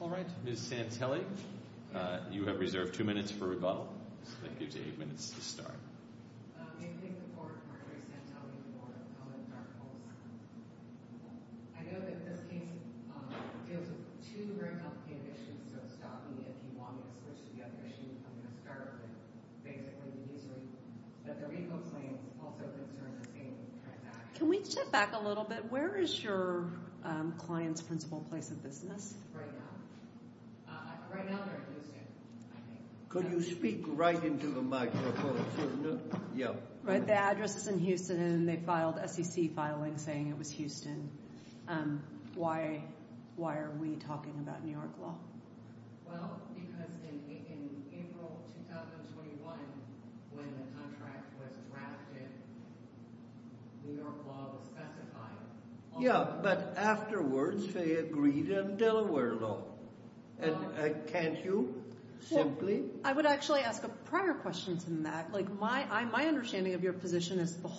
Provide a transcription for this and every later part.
Alright, Ms. Santelli, you have reserved 2 minutes for rebuttal. That gives you 8 minutes to start. Can we step back a little bit? Where is your client's principal place of business? Right now they're in Houston, I think. Well, because in April 2021, when the contract was drafted, New York law was specified. And can't you, simply? Well,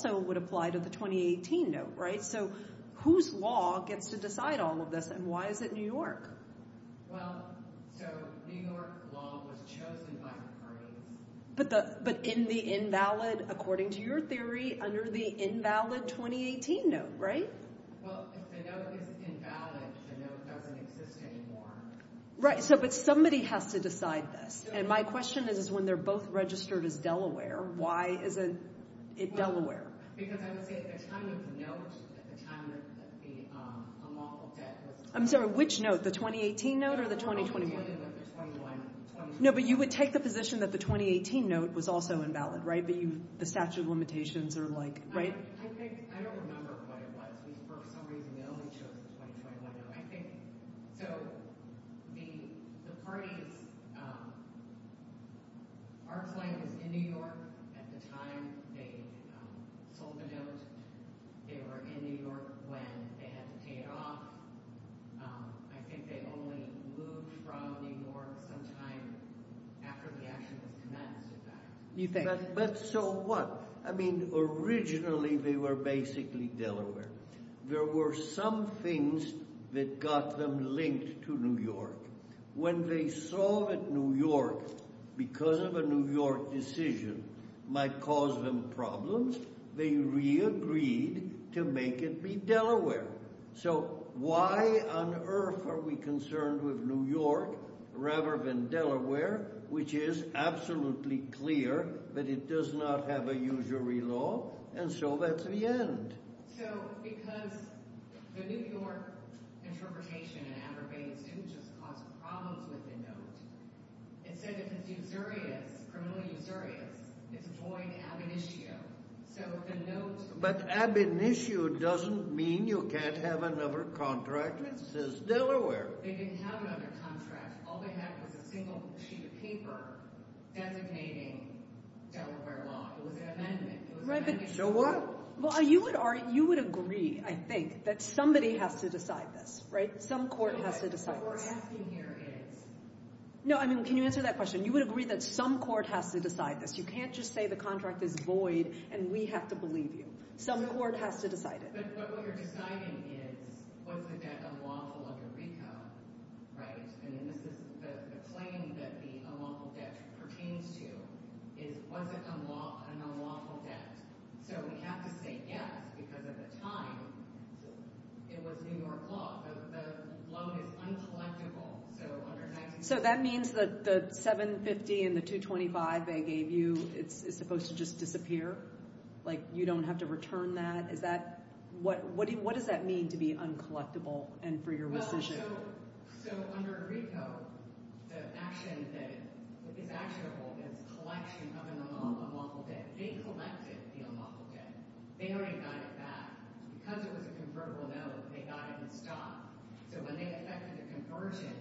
so New York law was chosen by the parties. Well, if the note is invalid, the note doesn't exist anymore. Well, because I would say at the time of the note, at the time of the unlawful debt was... No, but you would take the position that the 2018 note was also invalid, right? The statute of limitations or like... I don't remember what it was. For some reason they only chose the 2021 note. I think, so, the parties... Our client was in New York at the time they sold the note. They were in New York when they had to pay it off. I think they only moved from New York sometime after the action was commenced. Why on earth are we concerned with New York rather than Delaware, which is absolutely clear that it does not have a usury law? And so that's the end. So, because the New York interpretation and adverbatives didn't just cause problems with the note. It said if it's usurious, criminally usurious, it's void ab initio. So, if the note... They didn't have another contract. All they had was a single sheet of paper designating Delaware law. It was an amendment. Right, but... So what? Well, you would agree, I think, that somebody has to decide this, right? Some court has to decide this. What we're asking here is... No, I mean, can you answer that question? You would agree that some court has to decide this. You can't just say the contract is void and we have to believe you. Some court has to decide it. But what you're deciding is, was the debt unlawful under RICO, right? And this is the claim that the unlawful debt pertains to is, was it an unlawful debt? So, we have to say yes, because at the time, it was New York law. The loan is uncollectible. So, that means that the $750,000 and the $225,000 they gave you is supposed to just disappear? Like, you don't have to return that? What does that mean to be uncollectible and for your rescission? So, under RICO, the action that is actionable is collection of an unlawful debt. But they collected the unlawful debt. They already got it back. Because it was a convertible note, they got it in stock. So, when they affected the conversion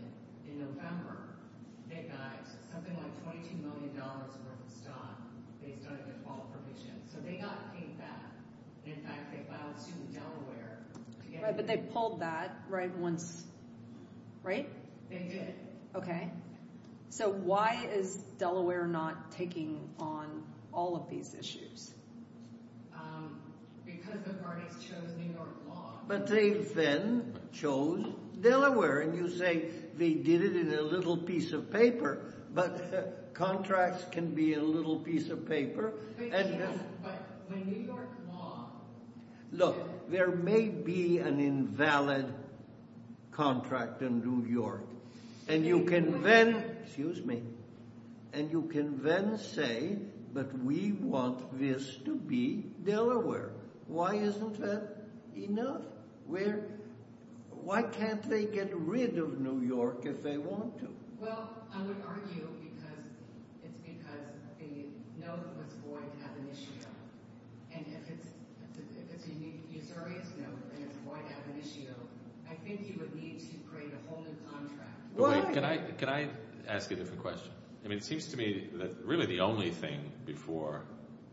in November, they got something like $22 million worth of stock based on a default provision. So, they got paid back. In fact, they filed suit in Delaware. But they pulled that, right, once, right? They did. Okay. So, why is Delaware not taking on all of these issues? Because the parties chose New York law. But they then chose Delaware. And you say they did it in a little piece of paper. But contracts can be a little piece of paper. But New York law. Look, there may be an invalid contract in New York. And you can then say, but we want this to be Delaware. Why isn't that enough? Why can't they get rid of New York if they want to? Well, I would argue because it's because the note was void ab initio. And if it's a usurious note and it's void ab initio, I think you would need to create a whole new contract. Can I ask you a different question? I mean, it seems to me that really the only thing before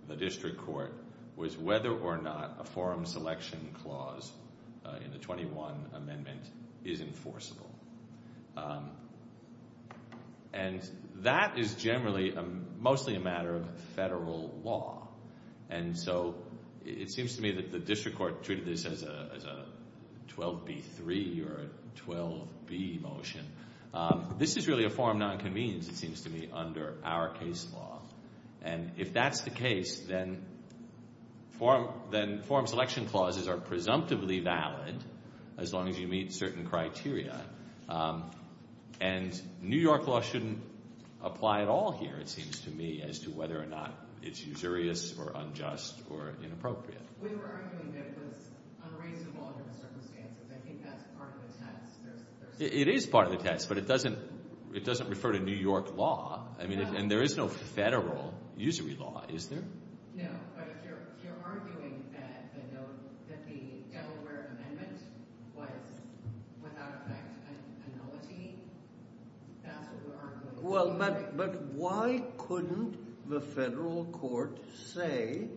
the district court was whether or not a forum selection clause in the 21 amendment is enforceable. And that is generally mostly a matter of federal law. And so it seems to me that the district court treated this as a 12b3 or a 12b motion. This is really a forum nonconvenience, it seems to me, under our case law. And if that's the case, then forum selection clauses are presumptively valid as long as you meet certain criteria. And New York law shouldn't apply at all here, it seems to me, as to whether or not it's usurious or unjust or inappropriate. We were arguing that it was unreasonable under the circumstances. I think that's part of the test. It is part of the test, but it doesn't refer to New York law. And there is no federal usury law, is there? No, but if you're arguing that the Delaware amendment was without effect a nullity, that's what we're arguing. Well, but why couldn't the federal court say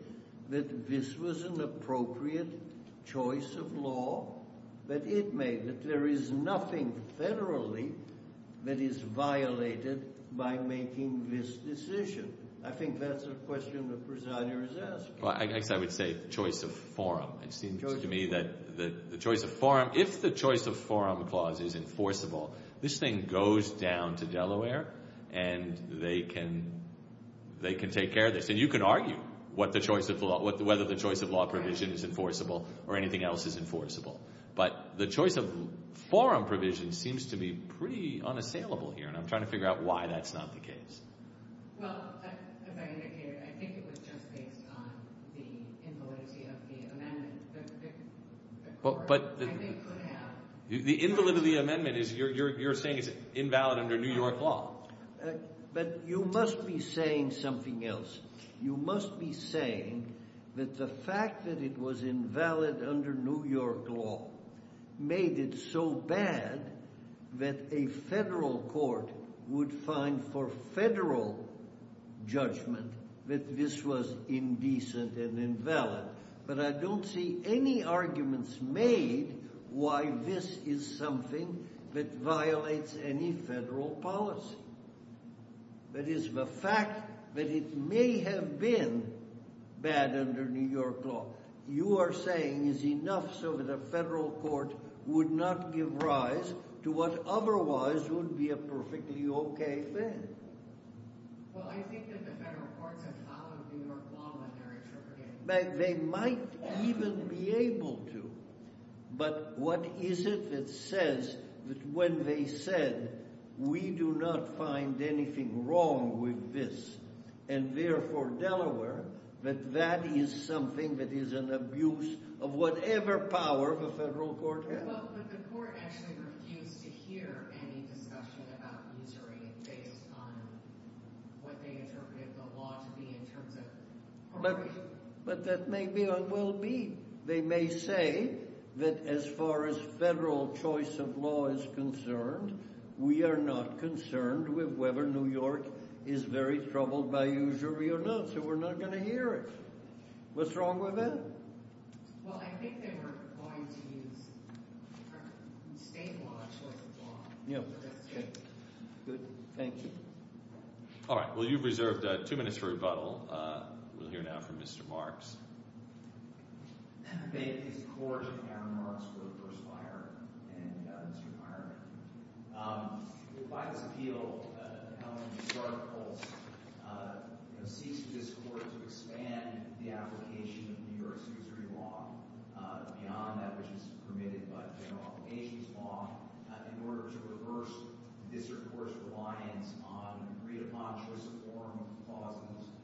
that this was an appropriate choice of law, that it made it? There is nothing federally that is violated by making this decision. I think that's a question the presider is asking. Well, I guess I would say choice of forum. It seems to me that the choice of forum, if the choice of forum clause is enforceable, this thing goes down to Delaware and they can take care of this. And you can argue whether the choice of law provision is enforceable or anything else is enforceable. But the choice of forum provision seems to be pretty unassailable here, and I'm trying to figure out why that's not the case. Well, as I indicated, I think it was just based on the invalidity of the amendment. The court, I think, could have – The invalidity of the amendment is – you're saying it's invalid under New York law. But you must be saying something else. You must be saying that the fact that it was invalid under New York law made it so bad that a federal court would find for federal judgment that this was indecent and invalid. But I don't see any arguments made why this is something that violates any federal policy. That is, the fact that it may have been bad under New York law, you are saying, is enough so that a federal court would not give rise to what otherwise would be a perfectly okay thing. Well, I think that the federal courts have followed New York law when they're interpreting it. They might even be able to. But what is it that says that when they said, we do not find anything wrong with this, and therefore Delaware, that that is something that is an abuse of whatever power the federal court has? Well, but the court actually refused to hear any discussion about usury based on what they interpreted the law to be in terms of appropriation. But that may be unwell-being. They may say that as far as federal choice of law is concerned, we are not concerned with whether New York is very troubled by usury or not. So we're not going to hear it. What's wrong with that? Well, I think they were going to use state law as law. Yeah. Good. All right. Well, you've reserved two minutes for rebuttal. We'll hear now from Mr. Marks.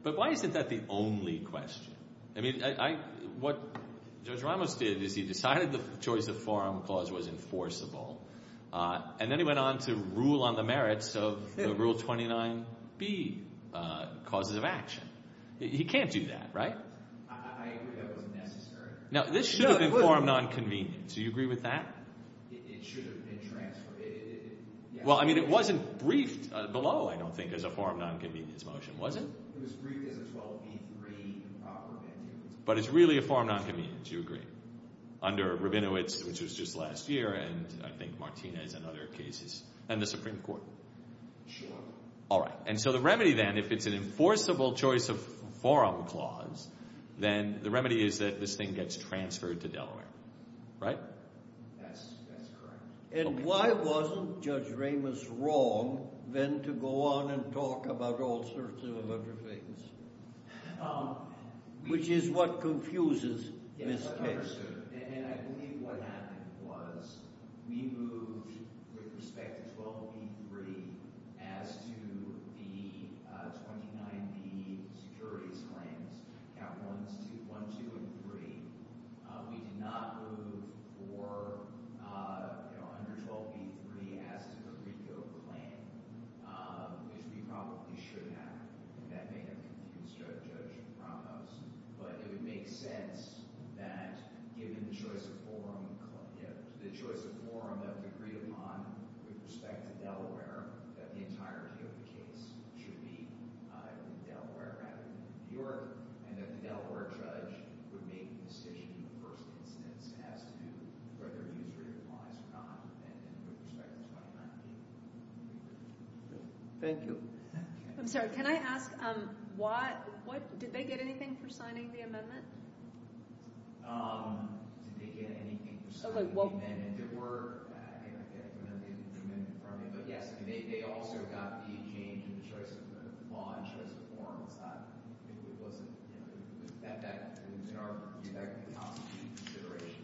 But why isn't that the only question? I mean, what Judge Ramos did is he decided the choice of forum clause was enforceable. And then he went on to rule on the merits of Rule 29B, causes of action. He can't do that, right? I agree that wasn't necessary. No, this should have been formed on convenience. Do you agree with that? It should have been transferred. Well, I mean, it wasn't briefed below, I don't think, as a forum nonconvenience motion, was it? It was briefed as a 12B3 improper mandate. But it's really a forum nonconvenience. Do you agree? Under Rabinowitz, which was just last year, and I think Martinez and other cases, and the Supreme Court. Sure. All right. And so the remedy then, if it's an enforceable choice of forum clause, then the remedy is that this thing gets transferred to Delaware, right? That's correct. And why wasn't Judge Ramos wrong then to go on and talk about all sorts of other things, which is what confuses this case? Yes, I understood. And I believe what happened was we moved, with respect to 12B3, as to the 29B securities claims, count ones 1, 2, and 3. We did not move for, you know, under 12B3, as to the RICO claim, which we probably should have. And that may have confused Judge Ramos. But it would make sense that, given the choice of forum that was agreed upon with respect to Delaware, that the entirety of the case should be in Delaware rather than New York. And that the Delaware judge would make the decision in the first instance as to whether to use replies or not, and with respect to the 29B. Thank you. I'm sorry. Can I ask why – did they get anything for signing the amendment? Did they get anything for signing the amendment? There were – I don't have the amendment in front of me. But, yes, they also got the change in the choice of law and choice of forum. It's not – it wasn't – you know, in our view, that could constitute consideration.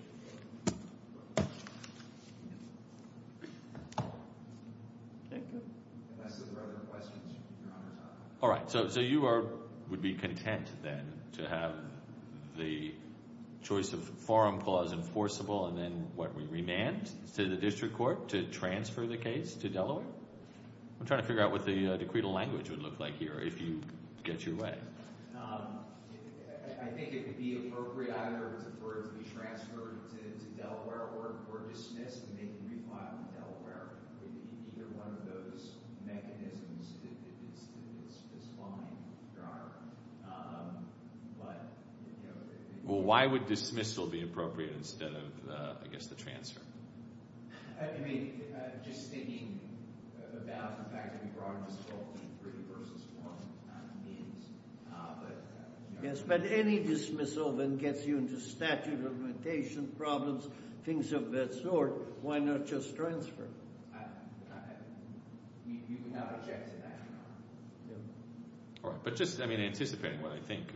Thank you. Unless there are other questions, Your Honor. All right. So you are – would be content, then, to have the choice of forum clause enforceable and then what, remanded to the district court to transfer the case to Delaware? I'm trying to figure out what the decretal language would look like here, if you get your way. I think it would be appropriate either for it to be transferred to Delaware or dismissed and they can re-file in Delaware. Either one of those mechanisms is fine, Your Honor. But, you know – Well, why would dismissal be appropriate instead of, I guess, the transfer? I mean, just thinking about the fact that we brought up this whole three-versus-one means, but – Yes, but any dismissal that gets you into statute of limitation problems, things of that sort, why not just transfer? We would not object to that, Your Honor. All right. But just, I mean, anticipating what I think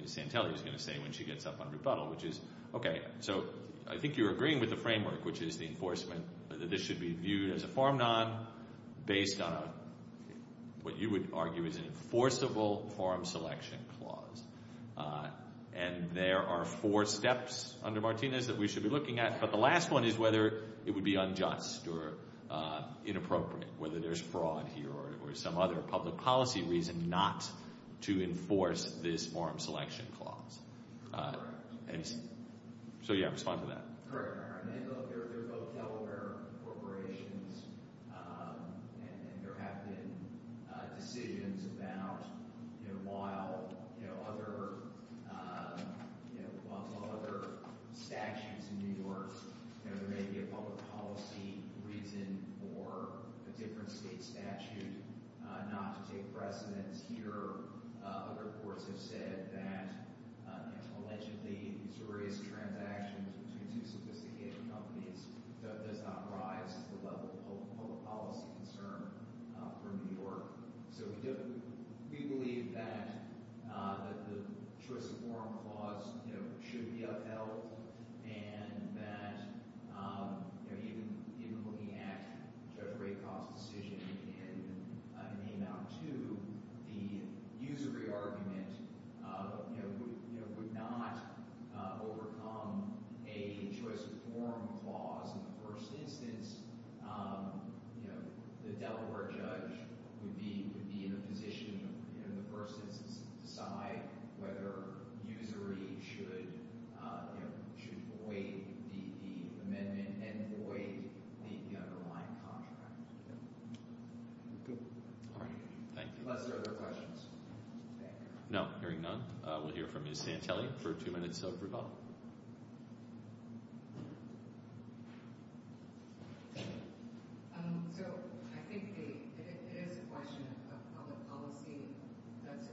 Ms. Santelli is going to say when she gets up on rebuttal, which is – Okay, so I think you're agreeing with the framework, which is the enforcement that this should be viewed as a forum non, based on what you would argue is an enforceable forum selection clause. And there are four steps under Martinez that we should be looking at. But the last one is whether it would be unjust or inappropriate, whether there's fraud here or some other public policy reason not to enforce this forum selection clause. So, yeah, respond to that. Correct, Your Honor. I mean, look, there's both Delaware corporations, and there have been decisions about, you know, while other statutes in New York – there may be a public policy reason for a different state statute not to take precedence here. Other courts have said that allegedly these various transactions between two sophisticated companies does not rise to the level of public policy concern for New York. So we believe that the choice of forum clause should be upheld and that even looking at Judge Raykov's decision in Amount 2, the usury argument would not overcome a choice of forum clause. In the first instance, you know, the Delaware judge would be in a position in the first instance to decide whether usury should avoid the amendment and avoid the underlying contract. Thank you. Unless there are other questions. No, hearing none, we'll hear from Ms. Santelli for two minutes of rebuttal. So I think it is a question of public policy. That is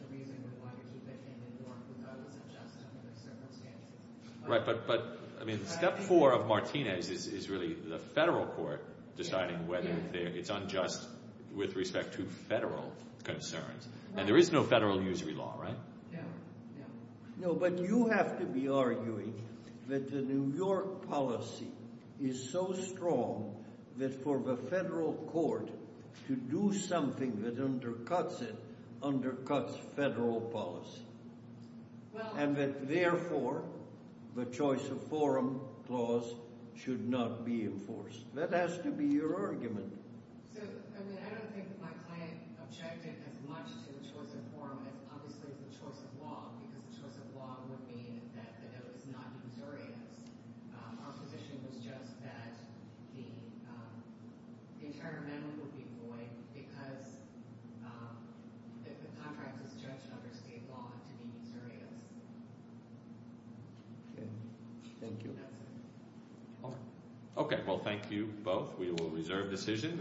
the reason we wanted to defend New York without its adjustment under the circumstances. Right, but, I mean, step four of Martinez is really the federal court deciding whether it's unjust with respect to federal concerns. And there is no federal usury law, right? No, no. No, but you have to be arguing that the New York policy is so strong that for the federal court to do something that undercuts it undercuts federal policy. And that, therefore, the choice of forum clause should not be enforced. That has to be your argument. So, I mean, I don't think my client objected as much to the choice of forum as, obviously, to the choice of law. Because the choice of law would mean that the note is not usurious. Our position was just that the entire amendment would be void because the contract is judged under state law to be usurious. Okay, thank you. That's it. Okay, well, thank you both. We will reserve decision.